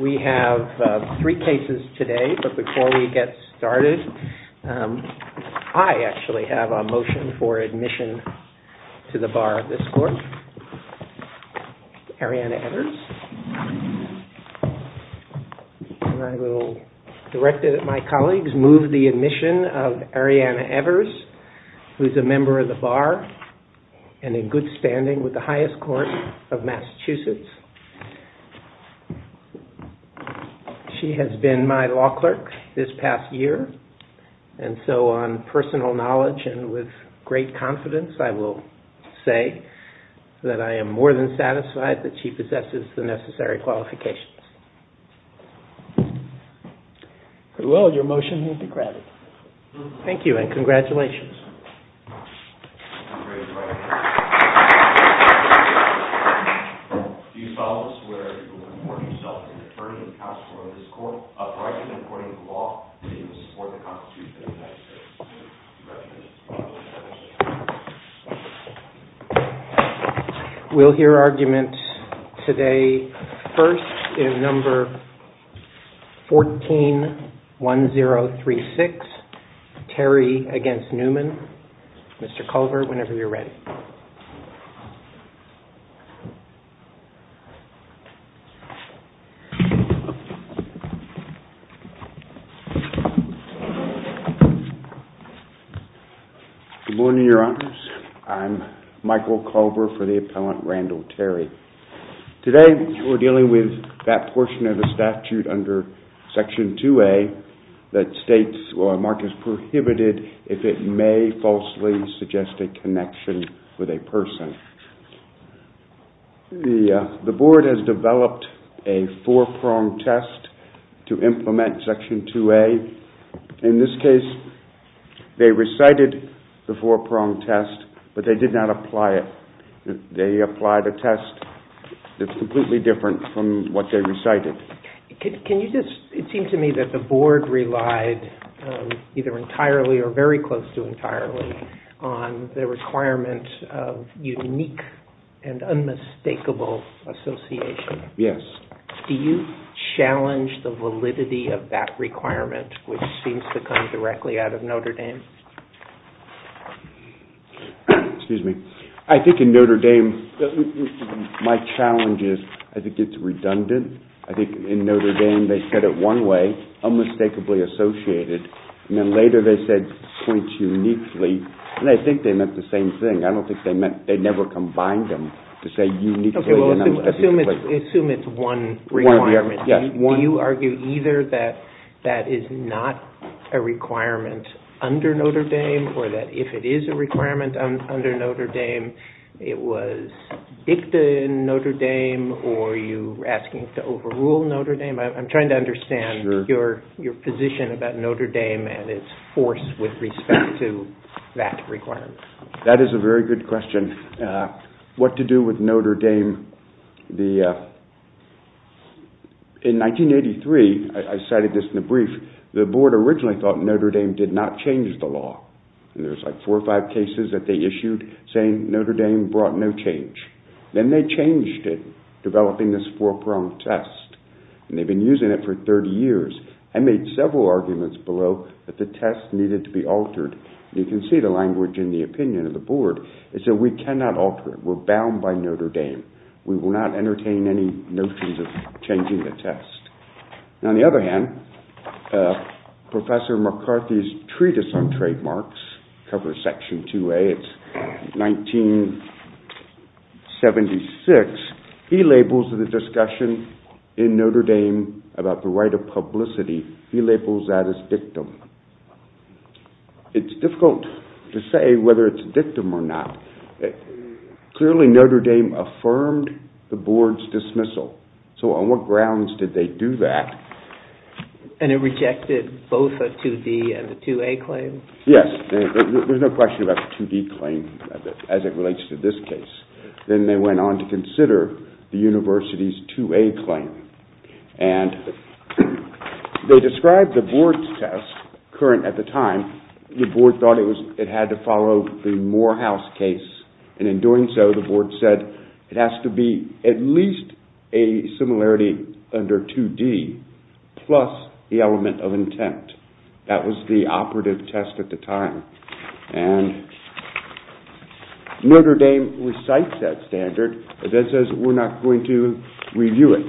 We have three cases today. But before we get started, I actually have a motion for admission to the bar of this court. Arianna Evers. And I will direct it at my colleagues to move the admission of Arianna Evers, who is a member of the bar and in good standing with the highest court of Massachusetts. She has been my law clerk this past year. And so on personal knowledge and with great confidence, I will say that I am more than satisfied that she possesses the necessary qualifications. Well, your motion has been granted. Thank you. Today first is number 141036, Terry v. Newman. Mr. Culver, whenever you're ready. Good morning, your honors. I'm Michael Culver for the appellant, Randall Terry. Today we're dealing with that portion of the statute under section 2A that states a mark is prohibited if it may falsely suggest a connection with a person. The board has developed a four-pronged test to implement section 2A. In this case, they recited the four-pronged test, but they did not apply it. They applied a test that's completely different from what they recited. Can you just, it seems to me that the board relied either entirely or very close to entirely on the requirement of unique and unmistakable association. Yes. Do you challenge the validity of that requirement, which seems to come directly out of Notre Dame? Excuse me. I think in Notre Dame they said it one way, unmistakably associated, and then later they said points uniquely, and I think they meant the same thing. I don't think they meant, they never combined them to say uniquely and unmistakably. Assume it's one requirement. Do you argue either that that is not a requirement under Notre Dame or that if it is a requirement under Notre Dame, it was dicta in Notre Dame, or are you asking to overrule Notre Dame? I'm trying to understand your position about Notre Dame and its force with respect to that requirement. That is a very good question. What to do with Notre Dame. In 1983, I cited this in the brief, the board originally thought Notre Dame did not change the law. There's like four or five cases that they issued saying Notre Dame brought no change. Then they changed it, developing this four-pronged test, and they've been using it for 30 years. I made several arguments below that the test needed to be altered. You can see the language in the opinion of the board. It said we cannot alter it. We're bound by Notre Dame. We will not entertain any notions of changing the test. On the other hand, Professor McCarthy's thesis on trademarks covers Section 2A. It's 1976. He labels the discussion in Notre Dame about the right of publicity, he labels that as dictum. It's difficult to say whether it's dictum or not. Clearly Notre Dame affirmed the board's dismissal. So on what grounds did they do that? And it rejected both a 2D and a 2A claim? Yes, there's no question about the 2D claim as it relates to this case. Then they went on to consider the university's 2A claim. They described the board's test, current at the time, the board thought it had to follow the Morehouse case. In doing so, the board said it has to be at least a similarity under 2D plus the element of intent. That was the operative test at the time. Notre Dame recites that standard. It says we're not going to review it.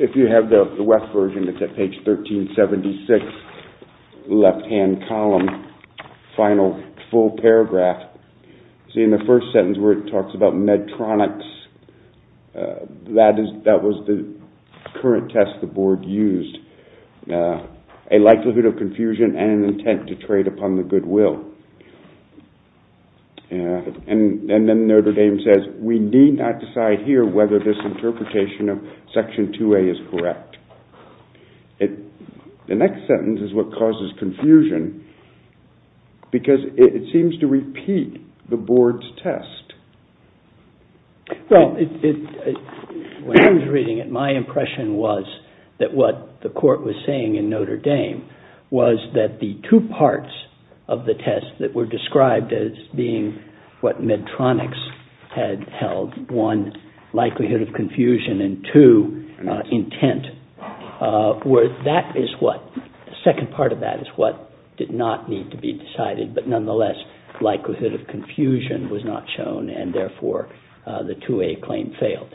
If you have the West version, it's at page 1376, left-hand column, final full paragraph. See in the first sentence where it talks about Medtronics, that was the current test the board used. A likelihood of confusion and an intent to trade upon the goodwill. And then Notre Dame says we need not decide here whether this interpretation of section 2A is correct. The next sentence is what causes confusion because it seems to repeat the board's test. Well, when I was reading it, my impression was that what the court was saying in Notre Dame was that the one, likelihood of confusion, and two, intent. That is what, the second part of that is what did not need to be decided, but nonetheless, likelihood of confusion was not shown and therefore the 2A claim failed.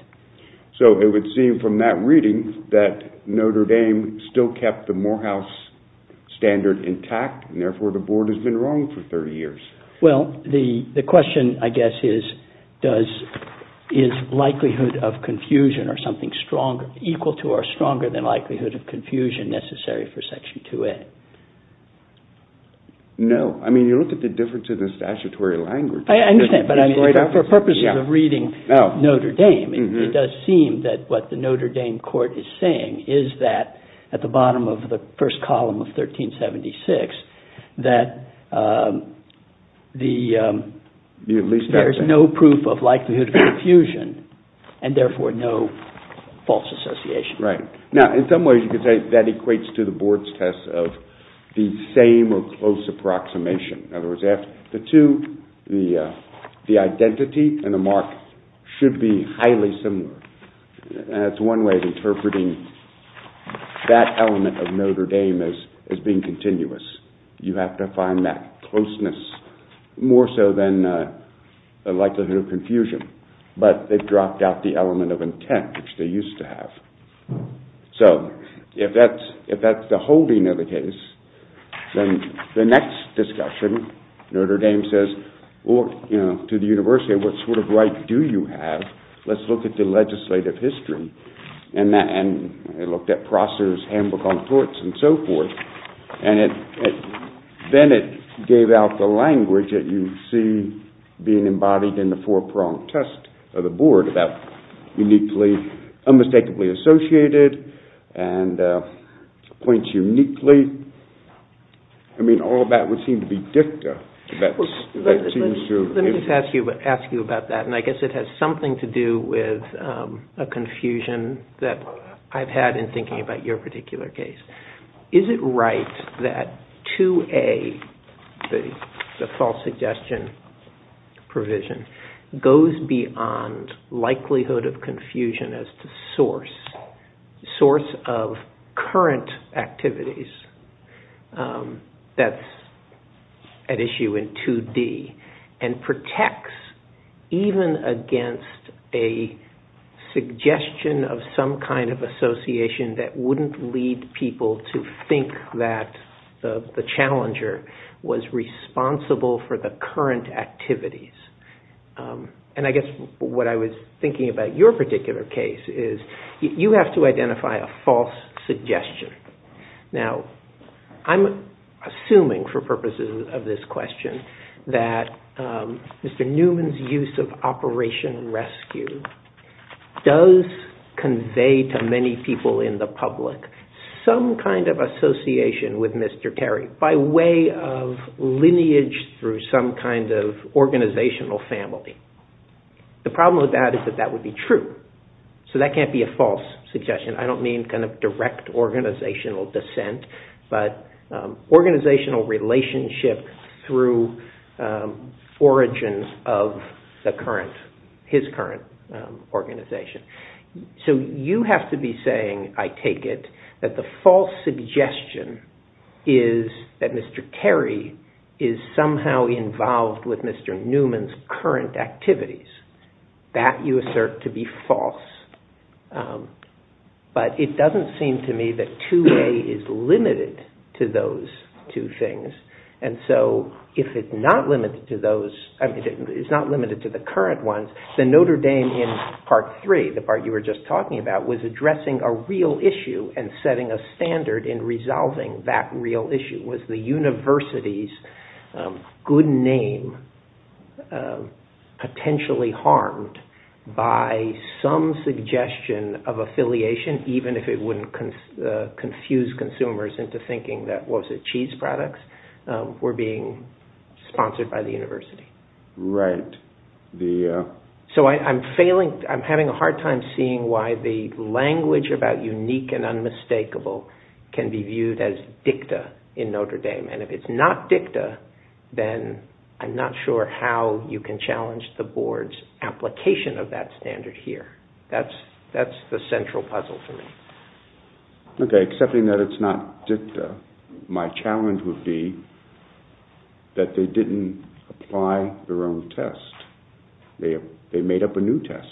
So it would seem from that reading that Notre Dame still kept the Morehouse standard intact and therefore the board has been wrong for 30 years. Well, the question I guess is, is likelihood of confusion or something equal to or stronger than likelihood of confusion necessary for section 2A? No, I mean you look at the difference in the statutory language. I understand, but for purposes of reading Notre Dame, it does seem that what the Notre Dame court is saying is that at the bottom of the first column of 1376, that there is no proof of likelihood of confusion and therefore no false association. Right. Now, in some ways you could say that equates to the board's test of the same or close approximation. In other words, the two, the identity and the mark should be highly similar. That's one way of interpreting that element of Notre Dame as being continuous. You have to find that closeness more so than likelihood of confusion, but they've dropped out the element of intent, which they used to have. So, if that's the holding of the case, then the next discussion, Notre Dame says, to the university, what sort of right do you have? Let's look at the legislative history. And they looked at Prosser's Handbook on Courts and so forth. And then it gave out the language that you see being embodied in the four-pronged test of the board about uniquely, unmistakably associated and points uniquely. I mean, all of that would seem to be dicta. Let me just ask you about that, and I guess it has something to do with a confusion that I've had in thinking about your particular case. Is it right that 2A, the false suggestion provision, goes beyond likelihood of confusion as to source, source of current activities, that's an issue in 2D, and protects even against a suggestion of some kind of association that wouldn't lead people to think that the challenger was responsible for the current activities? And I guess what I was thinking about your particular case is you have to identify a false suggestion. Now, I'm assuming for purposes of this question that Mr. Newman's use of Operation Rescue does convey to many people in the public some kind of association with Mr. Terry by way of lineage through some kind of organizational family. The problem with that is that that would be true, so that can't be a false suggestion. I don't mean kind of direct organizational dissent, but organizational relationship through origins of the current, his current organization. So you have to be involved with Mr. Newman's current activities. That you assert to be false. But it doesn't seem to me that 2A is limited to those two things, and so if it's not limited to the current ones, then Notre Dame in Part 3, the part you were just talking about, was addressing a real issue and setting a standard in resolving that real issue. Was the university's good name potentially harmed by some suggestion of affiliation, even if it wouldn't confuse consumers into thinking that, was it cheese products, were being sponsored by the university? Right. So I'm failing, I'm having a hard time seeing why the language about unique and unmistakable can be viewed as dicta in Notre Dame. And if it's not dicta, then I'm not sure how you can challenge the board's application of that standard here. That's the central puzzle for me. Okay, accepting that it's not dicta, my challenge would be that they didn't apply their own test. They made up a new test.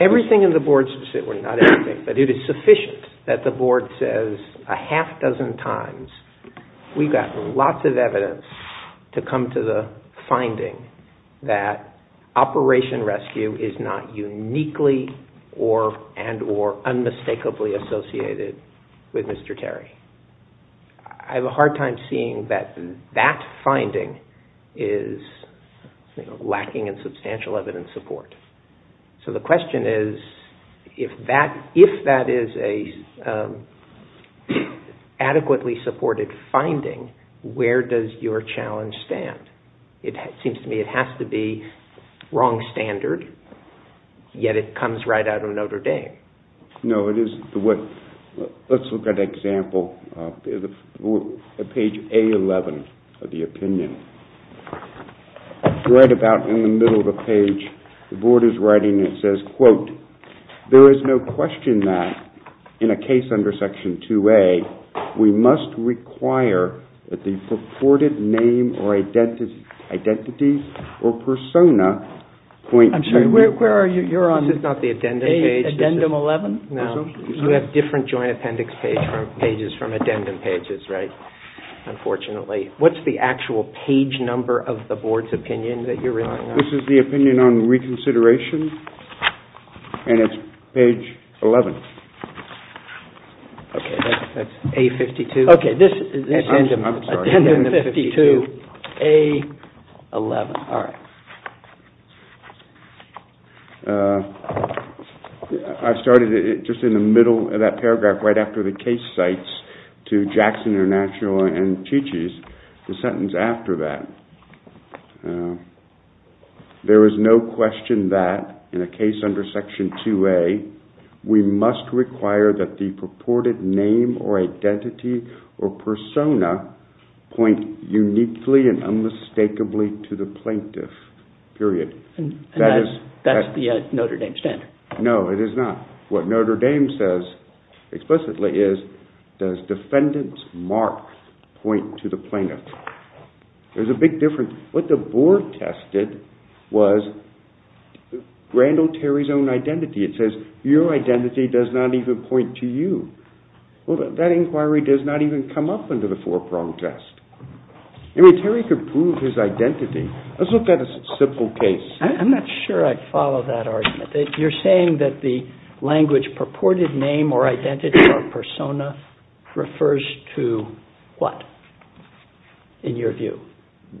Everything in the board's, well not everything, but it is sufficient that the board says a half dozen times, we've got lots of evidence to come to the finding that Operation Rescue is not uniquely and or unmistakably associated with Mr. Terry. I have a hard time seeing that that finding is lacking in substantial evidence support. So the question is, if that is an adequately supported finding, where does your challenge stand? It seems to me it has to be wrong standard, yet it comes right out of Notre Dame. No, it is. Let's look at example, page A11 of the opinion. Right about in the middle of the page, the board is writing, it says, quote, there is no question that in a case under section 2A, we must require that the purported name or identity or persona point This is not the addendum page. Addendum 11? No. You have different joint appendix pages from addendum pages, right? Unfortunately. What's the actual page number of the board's opinion that you're relying on? This is the opinion on reconsideration and it's page 11. Okay, that's A52. Okay, this is addendum 52A11. All right. I started it just in the middle of that paragraph, right after the case cites to Jackson International and Chi Chi's, the sentence after that. There is no question that in a case under section 2A, we must require that the purported name or identity or That's the Notre Dame standard. No, it is not. What Notre Dame says explicitly is, does defendant's mark point to the plaintiff? There's a big difference. What the board tested was Randall Terry's own identity. It says, your identity does not even point to you. Well, that inquiry does not even come up under the four-prong test. I mean, Terry could prove his identity. Let's look at a simple case. I'm not sure I follow that argument. You're saying that the language purported name or identity or persona refers to what, in your view?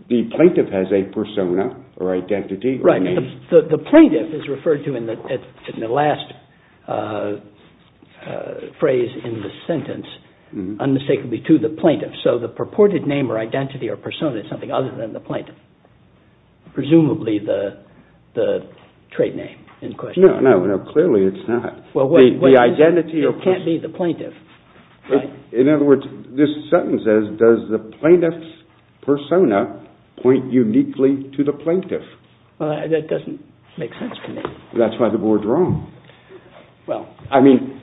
The plaintiff has a persona or identity. The plaintiff is referred to in the last phrase in the sentence, unmistakably to the plaintiff. So the purported name or identity or persona is something other than the plaintiff. Presumably the trait name in question. No, no, no. Clearly it's not. It can't be the plaintiff. In other words, this sentence says, does the plaintiff's persona point uniquely to the plaintiff? That doesn't make sense to me. That's why the board's wrong. Well, I mean,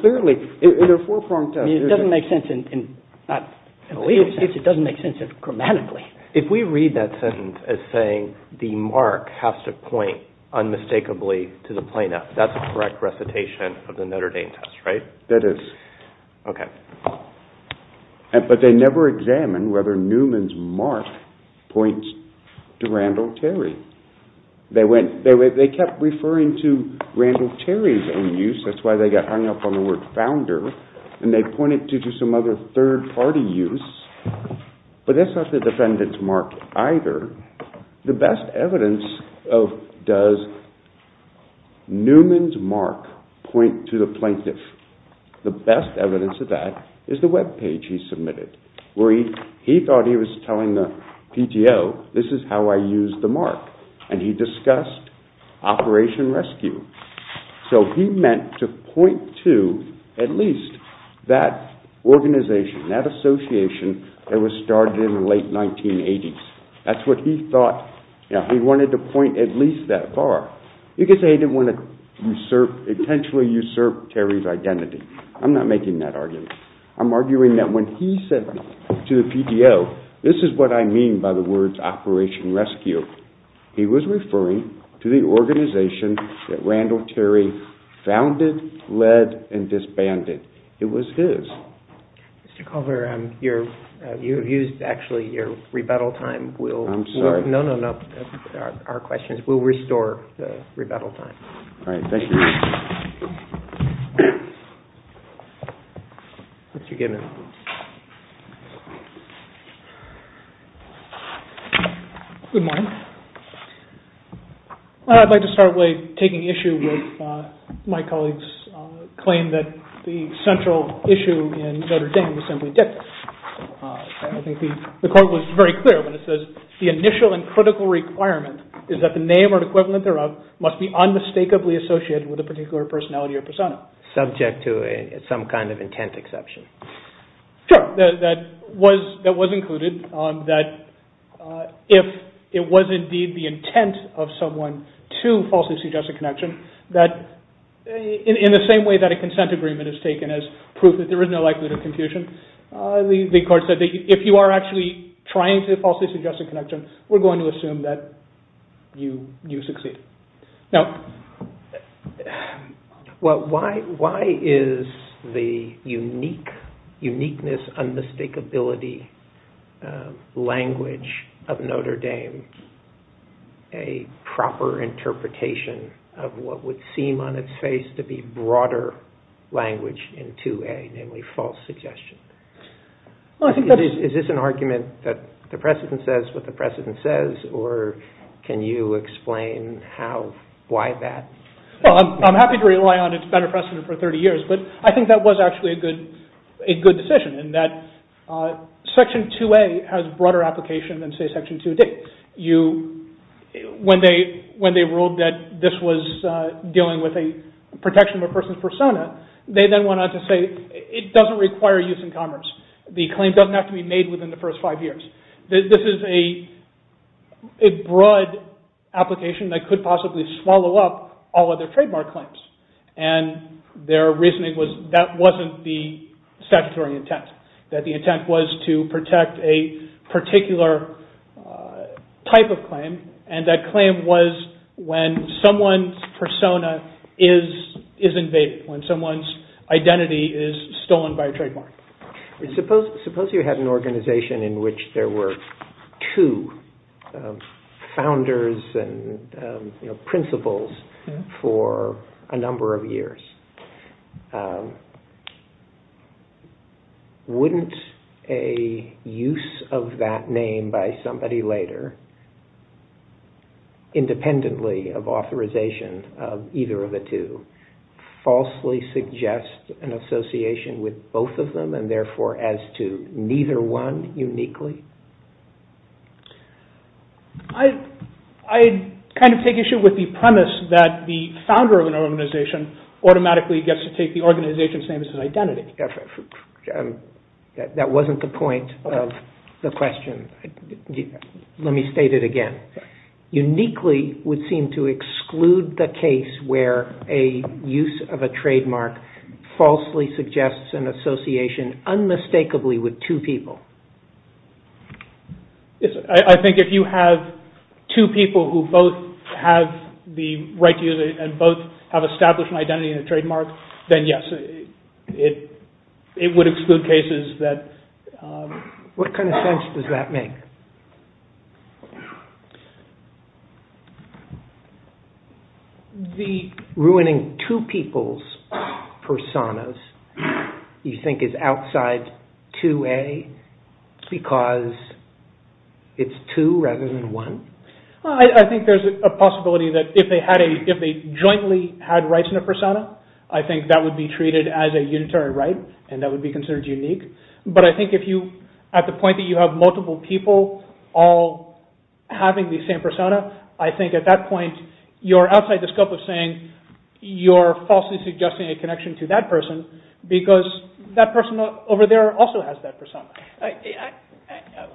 clearly in a four-prong test. It doesn't make sense grammatically. If we read that sentence as saying the mark has to point unmistakably to the plaintiff, that's the correct recitation of the Notre Dame test, right? That is. Okay. But they never examined whether Newman's mark points to Randall Terry. They kept referring to Randall Terry's own use. That's why they got hung up on the word founder. And they pointed to some other third-party use. But that's not the defendant's mark either. The best evidence of does Newman's mark point to the plaintiff, the best evidence of that is the webpage he submitted, where he thought he was telling the PTO, this is how I use the mark. And he discussed Operation Rescue. So he meant to point to at least that organization, that association that was started in the late 1980s. That's what he thought. He wanted to point at least that far. You could say he didn't want to potentially usurp Terry's identity. I'm not making that argument. I'm arguing that when he said to the PTO, this is what I mean by the words Operation Rescue, he was referring to the organization that Randall Terry founded, led, and disbanded. It was his. Mr. Culver, you've used, actually, your rebuttal time. I'm sorry. No, no, no. Our question is, we'll restore the rebuttal time. All right. Thank you. Mr. Gibbons. Good morning. I'd like to start by taking issue with my colleague's claim that the central issue in Notre Dame was simply dictated. I think the court was very clear when it says, the initial and critical requirement is that the name or equivalent thereof must be unmistakably associated with a particular personality or persona. Subject to some kind of intent exception. Sure. That was included, that if it was indeed the intent of someone to falsely suggest a connection, that in the same way that a consent agreement is taken as proof that there is no likelihood of confusion, the court said that if you are actually trying to falsely suggest a connection, we're going to assume that you succeed. Well, why is the uniqueness, unmistakability language of Notre Dame a proper interpretation of what would seem on its face to be broader language in 2A, namely false suggestion? Is this an argument that the precedent says what the precedent says, or can you explain why that? Well, I'm happy to rely on its better precedent for 30 years, but I think that was actually a good decision, in that Section 2A has broader application than, say, Section 2D. When they ruled that this was dealing with a protection of a person's persona, they then went on to say it doesn't require use in commerce. The claim doesn't have to be made within the first five years. This is a broad application that could possibly swallow up all other trademark claims, and their reasoning was that wasn't the statutory intent, that the intent was to protect a particular type of claim, and that claim was when someone's persona is invaded, Suppose you had an organization in which there were two founders and principals for a number of years. Wouldn't a use of that name by somebody later, independently of authorization of either of the two, falsely suggest an association with both of them, and therefore as to neither one uniquely? I kind of take issue with the premise that the founder of an organization automatically gets to take the organization's name as an identity. That wasn't the point of the question. Let me state it again. Uniquely would seem to exclude the case where a use of a trademark falsely suggests an association unmistakably with two people. I think if you have two people who both have the right to use it and both have established an identity and a trademark, then yes, it would exclude cases that... What kind of sense does that make? The ruining two people's personas you think is outside 2A because it's two rather than one? I think there's a possibility that if they jointly had rights in a persona, I think that would be treated as a unitary right, and that would be considered unique. But I think at the point that you have multiple people all having the same persona, I think at that point you're outside the scope of saying you're falsely suggesting a connection to that person because that person over there also has that persona.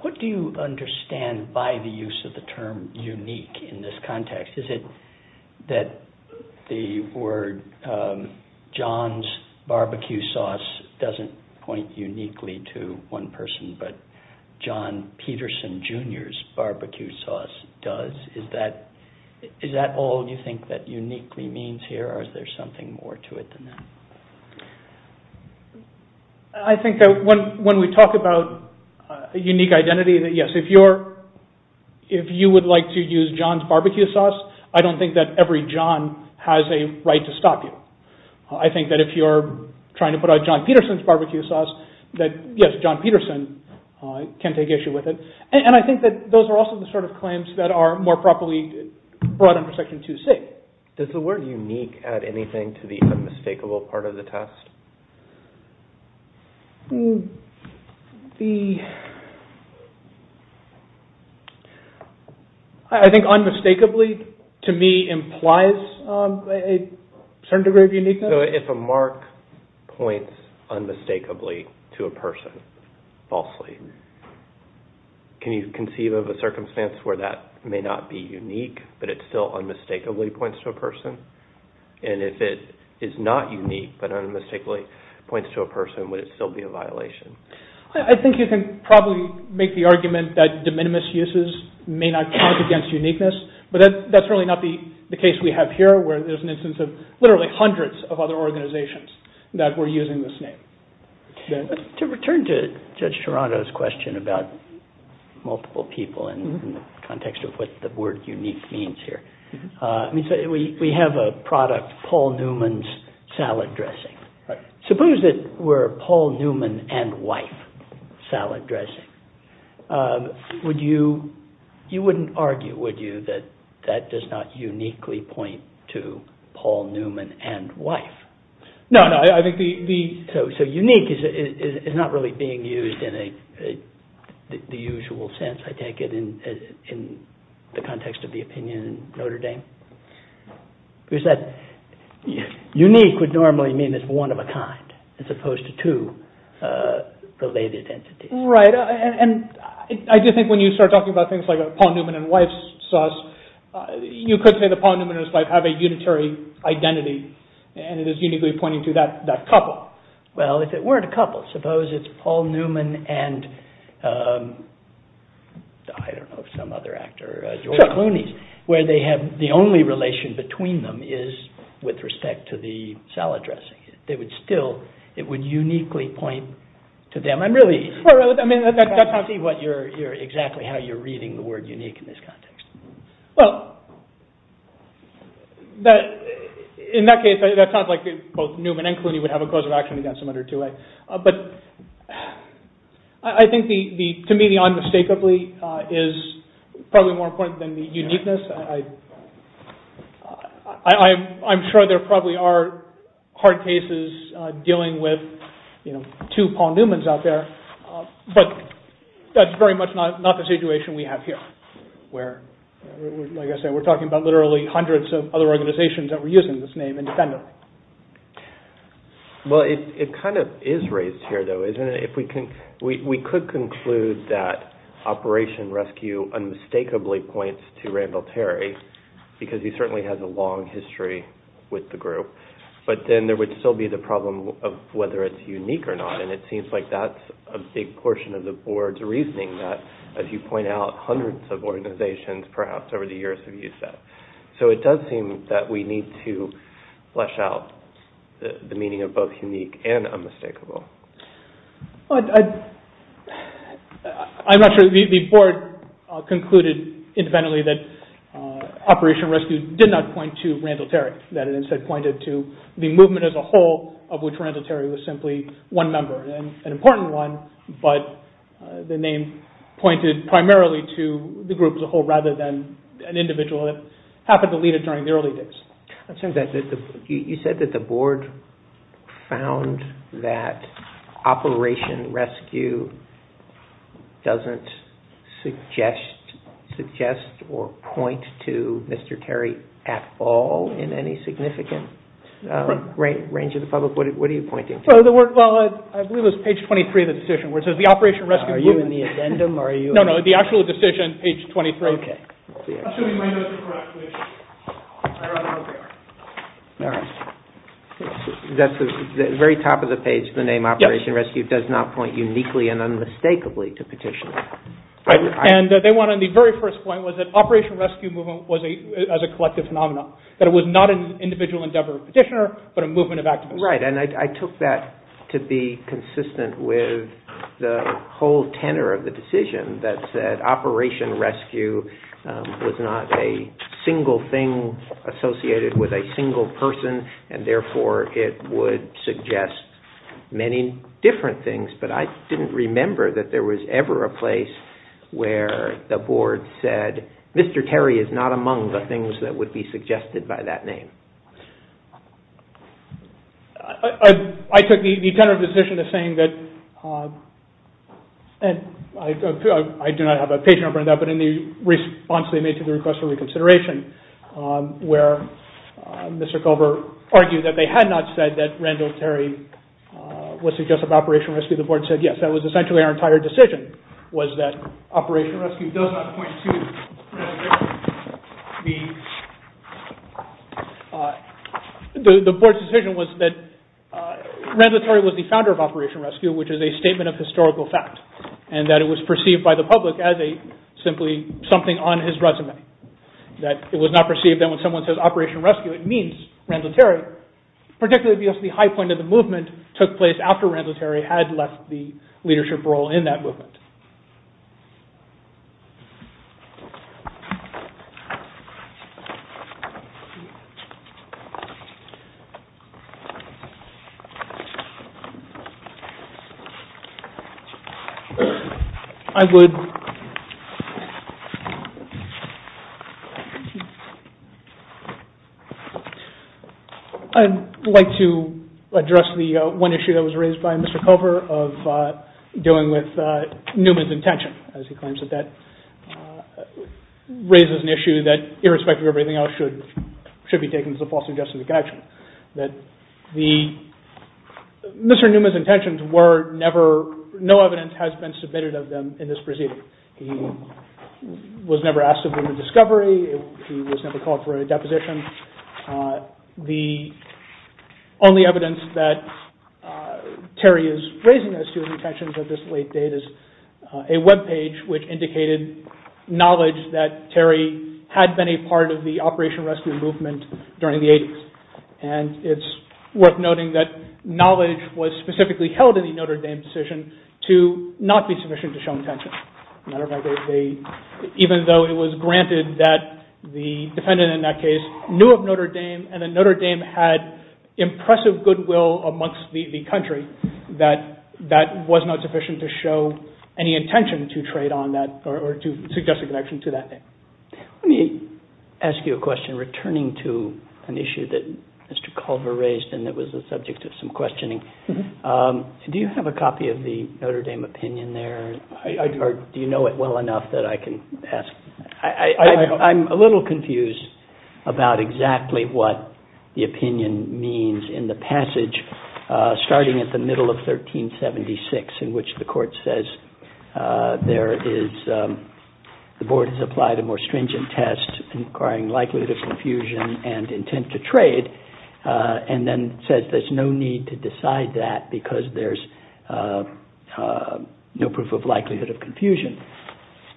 What do you understand by the use of the term unique in this context? Is it that the word John's barbecue sauce doesn't point uniquely to one person but John Peterson Jr.'s barbecue sauce does? Is that all you think that uniquely means here, or is there something more to it than that? I think that when we talk about a unique identity, yes, if you would like to use John's barbecue sauce, I don't think that every John has a right to stop you. I think that if you're trying to put out John Peterson's barbecue sauce, that yes, John Peterson can take issue with it. And I think that those are also the sort of claims that are more properly brought under Section 2C. Does the word unique add anything to the unmistakable part of the test? I think unmistakably to me implies a certain degree of uniqueness. So if a mark points unmistakably to a person, falsely, can you conceive of a circumstance where that may not be unique, but it still unmistakably points to a person? And if it is not unique but unmistakably points to a person, would it still be a violation? I think you can probably make the argument that de minimis uses may not count against uniqueness, but that's really not the case we have here where there's an instance of literally hundreds of other organizations that were using this name. To return to Judge Toronto's question about multiple people in the context of what the word unique means here, we have a product, Paul Newman's salad dressing. Suppose it were Paul Newman and wife salad dressing. You wouldn't argue, would you, that that does not uniquely point to Paul Newman and wife? So unique is not really being used in the usual sense, I take it, in the context of the opinion in Notre Dame. We said unique would normally mean it's one of a kind as opposed to two related entities. Right, and I do think when you start talking about things like a Paul Newman and wife sauce, you could say that Paul Newman and his wife have a unitary identity and it is uniquely pointing to that couple. Well, if it weren't a couple, suppose it's Paul Newman and... some other actor, George Clooney, where the only relation between them is with respect to the salad dressing. They would still, it would uniquely point to them. I'm really... I mean, that sounds to me exactly how you're reading the word unique in this context. Well, in that case, that sounds like both Newman and Clooney would have a cause of action against them under 2A. But I think to me, the unmistakably is probably more important than the uniqueness. I'm sure there probably are hard cases dealing with two Paul Newmans out there, but that's very much not the situation we have here. Where, like I said, we're talking about literally hundreds of other organizations that were using this name independently. Well, it kind of is raised here, though, isn't it? We could conclude that Operation Rescue unmistakably points to Randall Terry because he certainly has a long history with the group. But then there would still be the problem of whether it's unique or not and it seems like that's a big portion of the board's reasoning that, as you point out, hundreds of organizations perhaps over the years have used that. So it does seem that we need to flesh out the meaning of both unique and unmistakable. I'm not sure. The board concluded independently that Operation Rescue did not point to Randall Terry, that it instead pointed to the movement as a whole of which Randall Terry was simply one member, an important one, but the name pointed primarily to the group as a whole rather than an individual that happened to lead it during the early days. You said that the board found that Operation Rescue doesn't suggest or point to Mr. Terry at all in any significant range of the public. What are you pointing to? Well, I believe it was page 23 of the decision where it says the Operation Rescue group... Are you in the addendum? No, no, the actual decision, page 23. The very top of the page, the name Operation Rescue does not point uniquely and unmistakably to Petitioner. And they went on, the very first point was that Operation Rescue movement was a collective phenomenon, that it was not an individual endeavor of Petitioner but a movement of activists. Right, and I took that to be consistent with the whole tenor of the decision that said Operation Rescue was not a single thing associated with a single person and therefore it would suggest many different things. But I didn't remember that there was ever a place where the board said Mr. Terry is not among the things that would be suggested by that name. I took the tenor of the decision to saying that, and I do not have a page number on that, but in the response they made to the request for reconsideration where Mr. Culver argued that they had not said that Randall Terry was suggestive of Operation Rescue, the board said yes. That was essentially our entire decision, was that Operation Rescue does not point to The board's decision was that Randall Terry was the founder of Operation Rescue which is a statement of historical fact and that it was perceived by the public as a simply something on his resume. That it was not perceived that when someone says Operation Rescue it means Randall Terry, particularly because the high point of the movement took place after Randall Terry had left the leadership role in that movement. I would like to address the one issue that was raised by Mr. Culver of dealing with Newman's intention as he claims that that raises an issue that irrespective of everything else should be taken as a false suggestion of connection. Mr. Newman's intentions were never, no evidence has been submitted of them in this proceeding. He was never asked to bring a discovery, he was never called for a deposition. The only evidence that Terry is raising as to his intentions at this late date is a webpage which indicated knowledge that Terry had been a part of the Operation Rescue movement during the 80's. And it's worth noting that knowledge was specifically held in the Notre Dame decision to not be sufficient to show intention. Matter of fact, even though it was granted that the defendant in that case knew of Notre Dame and that Notre Dame had impressive goodwill amongst the country, that was not sufficient to show any intention to trade on that or to suggest a connection to that. Let me ask you a question returning to an issue that Mr. Culver raised and that was the subject of some questioning. Do you have a copy of the Notre Dame opinion there or do you know it well enough that I can ask? I'm a little confused about exactly what the opinion means in the passage starting at the middle of 1376 in which the court says the board has applied a more stringent test inquiring likelihood of confusion and intent to trade and then says there's no need to decide that because there's no proof of likelihood of confusion,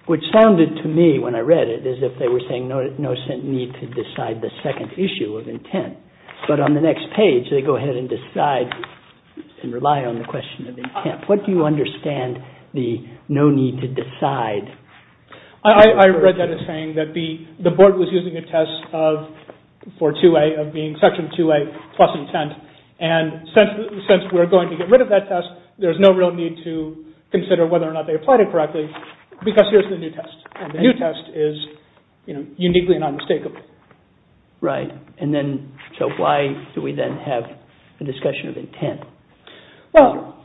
which sounded to me when I read it as if they were saying no need to decide the second issue of intent, but on the next page they go ahead and decide and rely on the question of intent. What do you understand the no need to decide? I read that as saying that the board was using a test for 2A of being Section 2A plus intent and since we're going to get rid of that test there's no real need to consider whether or not they applied it correctly because here's the new test and the new test is uniquely and unmistakably. Right, and then so why do we then have a discussion of intent? Well,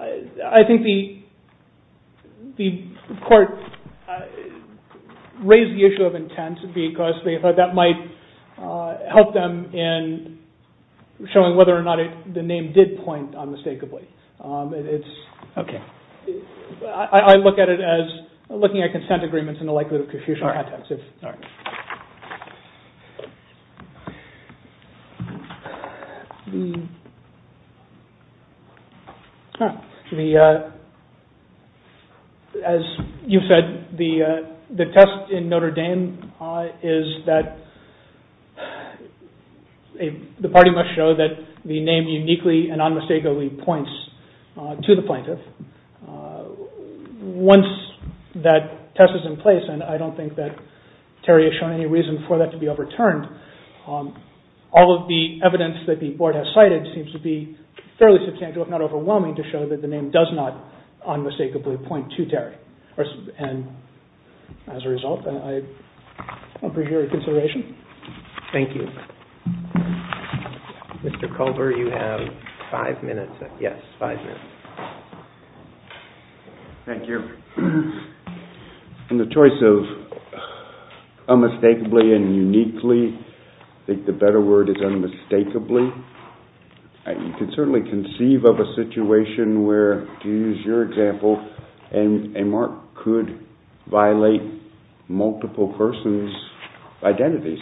I think the court raised the issue of intent because they thought that might help them in showing whether or not the name did point unmistakably. Okay. I look at it as looking at consent agreements and the likelihood of confusion. All right. As you said, the test in Notre Dame is that the party must show that the name uniquely and unmistakably points to the plaintiff. Once that test is in place, and I don't think that Terry has shown any reason for that to be overturned, all of the evidence that the board has cited seems to be fairly substantial, if not overwhelming, to show that the name does not unmistakably point to Terry. And as a result, I appreciate your consideration. Thank you. Mr. Culver, you have five minutes. Yes, five minutes. Thank you. In the choice of unmistakably and uniquely, I think the better word is unmistakably. You can certainly conceive of a situation where, to use your example, a mark could violate multiple persons' identities.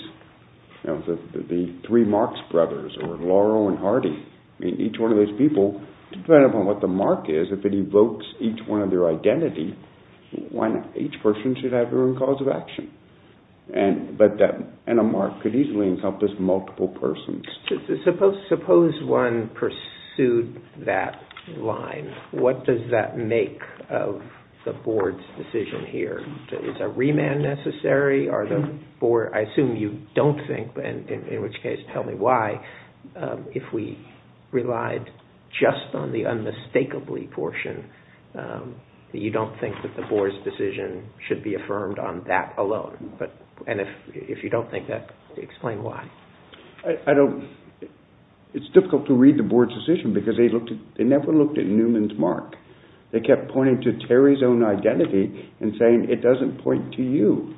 The three Marx brothers, or Laurel and Hardy, each one of those people, depending upon what the mark is, if it evokes each one of their identity, each person should have their own cause of action. And a mark could easily encompass multiple persons. Suppose one pursued that line. What does that make of the board's decision here? Is a remand necessary? I assume you don't think, in which case tell me why, if we relied just on the unmistakably portion, you don't think that the board's decision should be affirmed on that alone? And if you don't think that, explain why. It's difficult to read the board's decision because they never looked at Newman's mark. They kept pointing to Terry's own identity and saying, it doesn't point to you.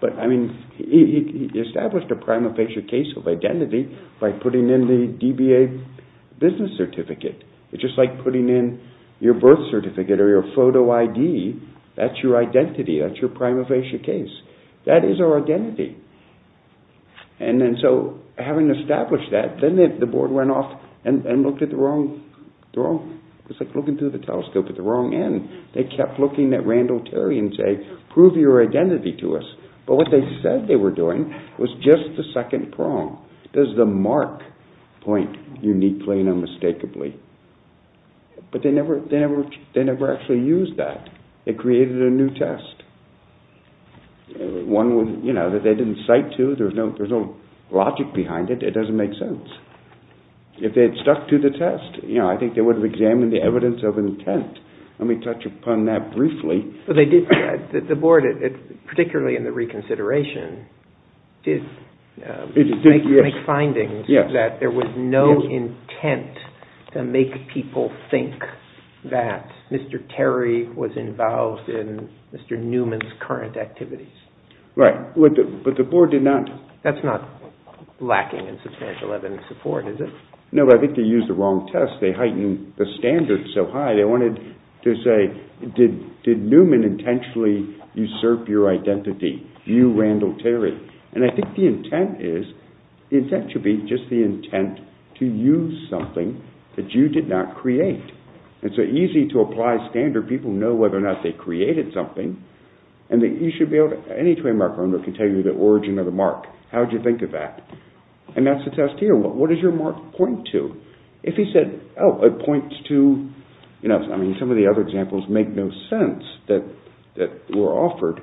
But, I mean, he established a prima facie case of identity by putting in the DBA business certificate. It's just like putting in your birth certificate or your photo ID. That's your identity. That's your prima facie case. That is our identity. And then, so, having established that, then the board went off and looked at the wrong... It's like looking through the telescope at the wrong end. They kept looking at Randall Terry and saying, prove your identity to us. But what they said they were doing was just the second prong. There's the mark point, uniquely and unmistakably. But they never actually used that. They created a new test. One that they didn't cite to. There's no logic behind it. It doesn't make sense. If they had stuck to the test, I think they would have examined the evidence of intent. Let me touch upon that briefly. But they did... The board, particularly in the reconsideration, did make findings that there was no intent to make people think that Mr. Terry was involved in Mr. Newman's current activities. Right. But the board did not... That's not lacking in substantial evidence support, is it? No, but I think they used the wrong test. They heightened the standards so high they wanted to say, did Newman intentionally usurp your identity? You, Randall Terry. And I think the intent is... The intent should be just the intent to use something that you did not create. It's so easy to apply standard. People know whether or not they created something. And you should be able to... Any trademark owner can tell you the origin of the mark. How would you think of that? And that's the test here. What does your mark point to? If he said, oh, it points to... I mean, some of the other examples make no sense that were offered.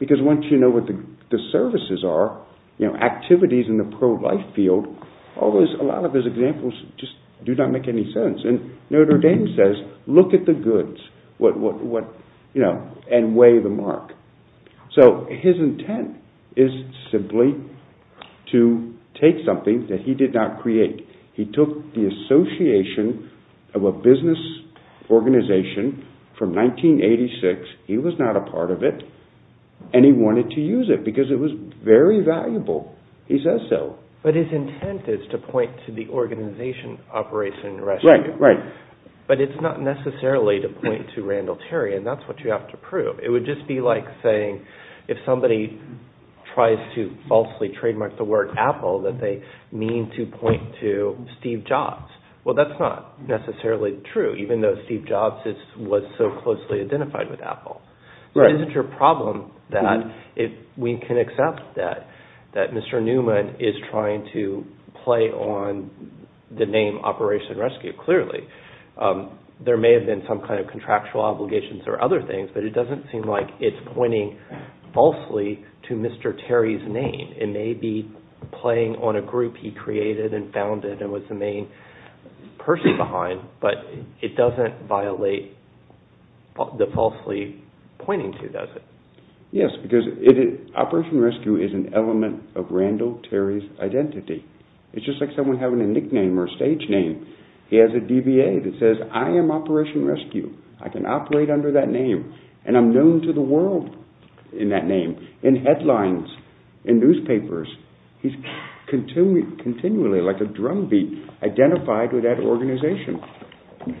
Because once you know what the services are, activities in the pro-life field, a lot of his examples just do not make any sense. And Notre Dame says, look at the goods and weigh the mark. So his intent is simply to take something that he did not create. He took the association of a business organization from 1986. He was not a part of it. And he wanted to use it. Because it was very valuable. He says so. But his intent is to point to the organization Operation Rescue. Right, right. But it's not necessarily to point to Randall Terry. And that's what you have to prove. It would just be like saying, if somebody tries to falsely trademark the word Apple, that they mean to point to Steve Jobs. Well, that's not necessarily true, even though Steve Jobs was so closely identified with Apple. So it isn't your problem that we can accept that Mr. Newman is trying to play on the name Operation Rescue, clearly. There may have been some kind of contractual obligations or other things, but it doesn't seem like it's pointing falsely to Mr. Terry's name. It may be playing on a group he created and founded and was the main person behind, but it doesn't violate the falsely pointing to, does it? Yes, because Operation Rescue is an element of Randall Terry's identity. It's just like someone having a nickname or a stage name. He has a DBA that says, I am Operation Rescue. I can operate under that name. And I'm known to the world in that name, in headlines, in newspapers. He's continually, like a drumbeat, identified with that organization.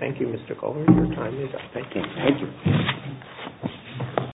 Thank you, Mr. Coleman. Your time is up. Thank you.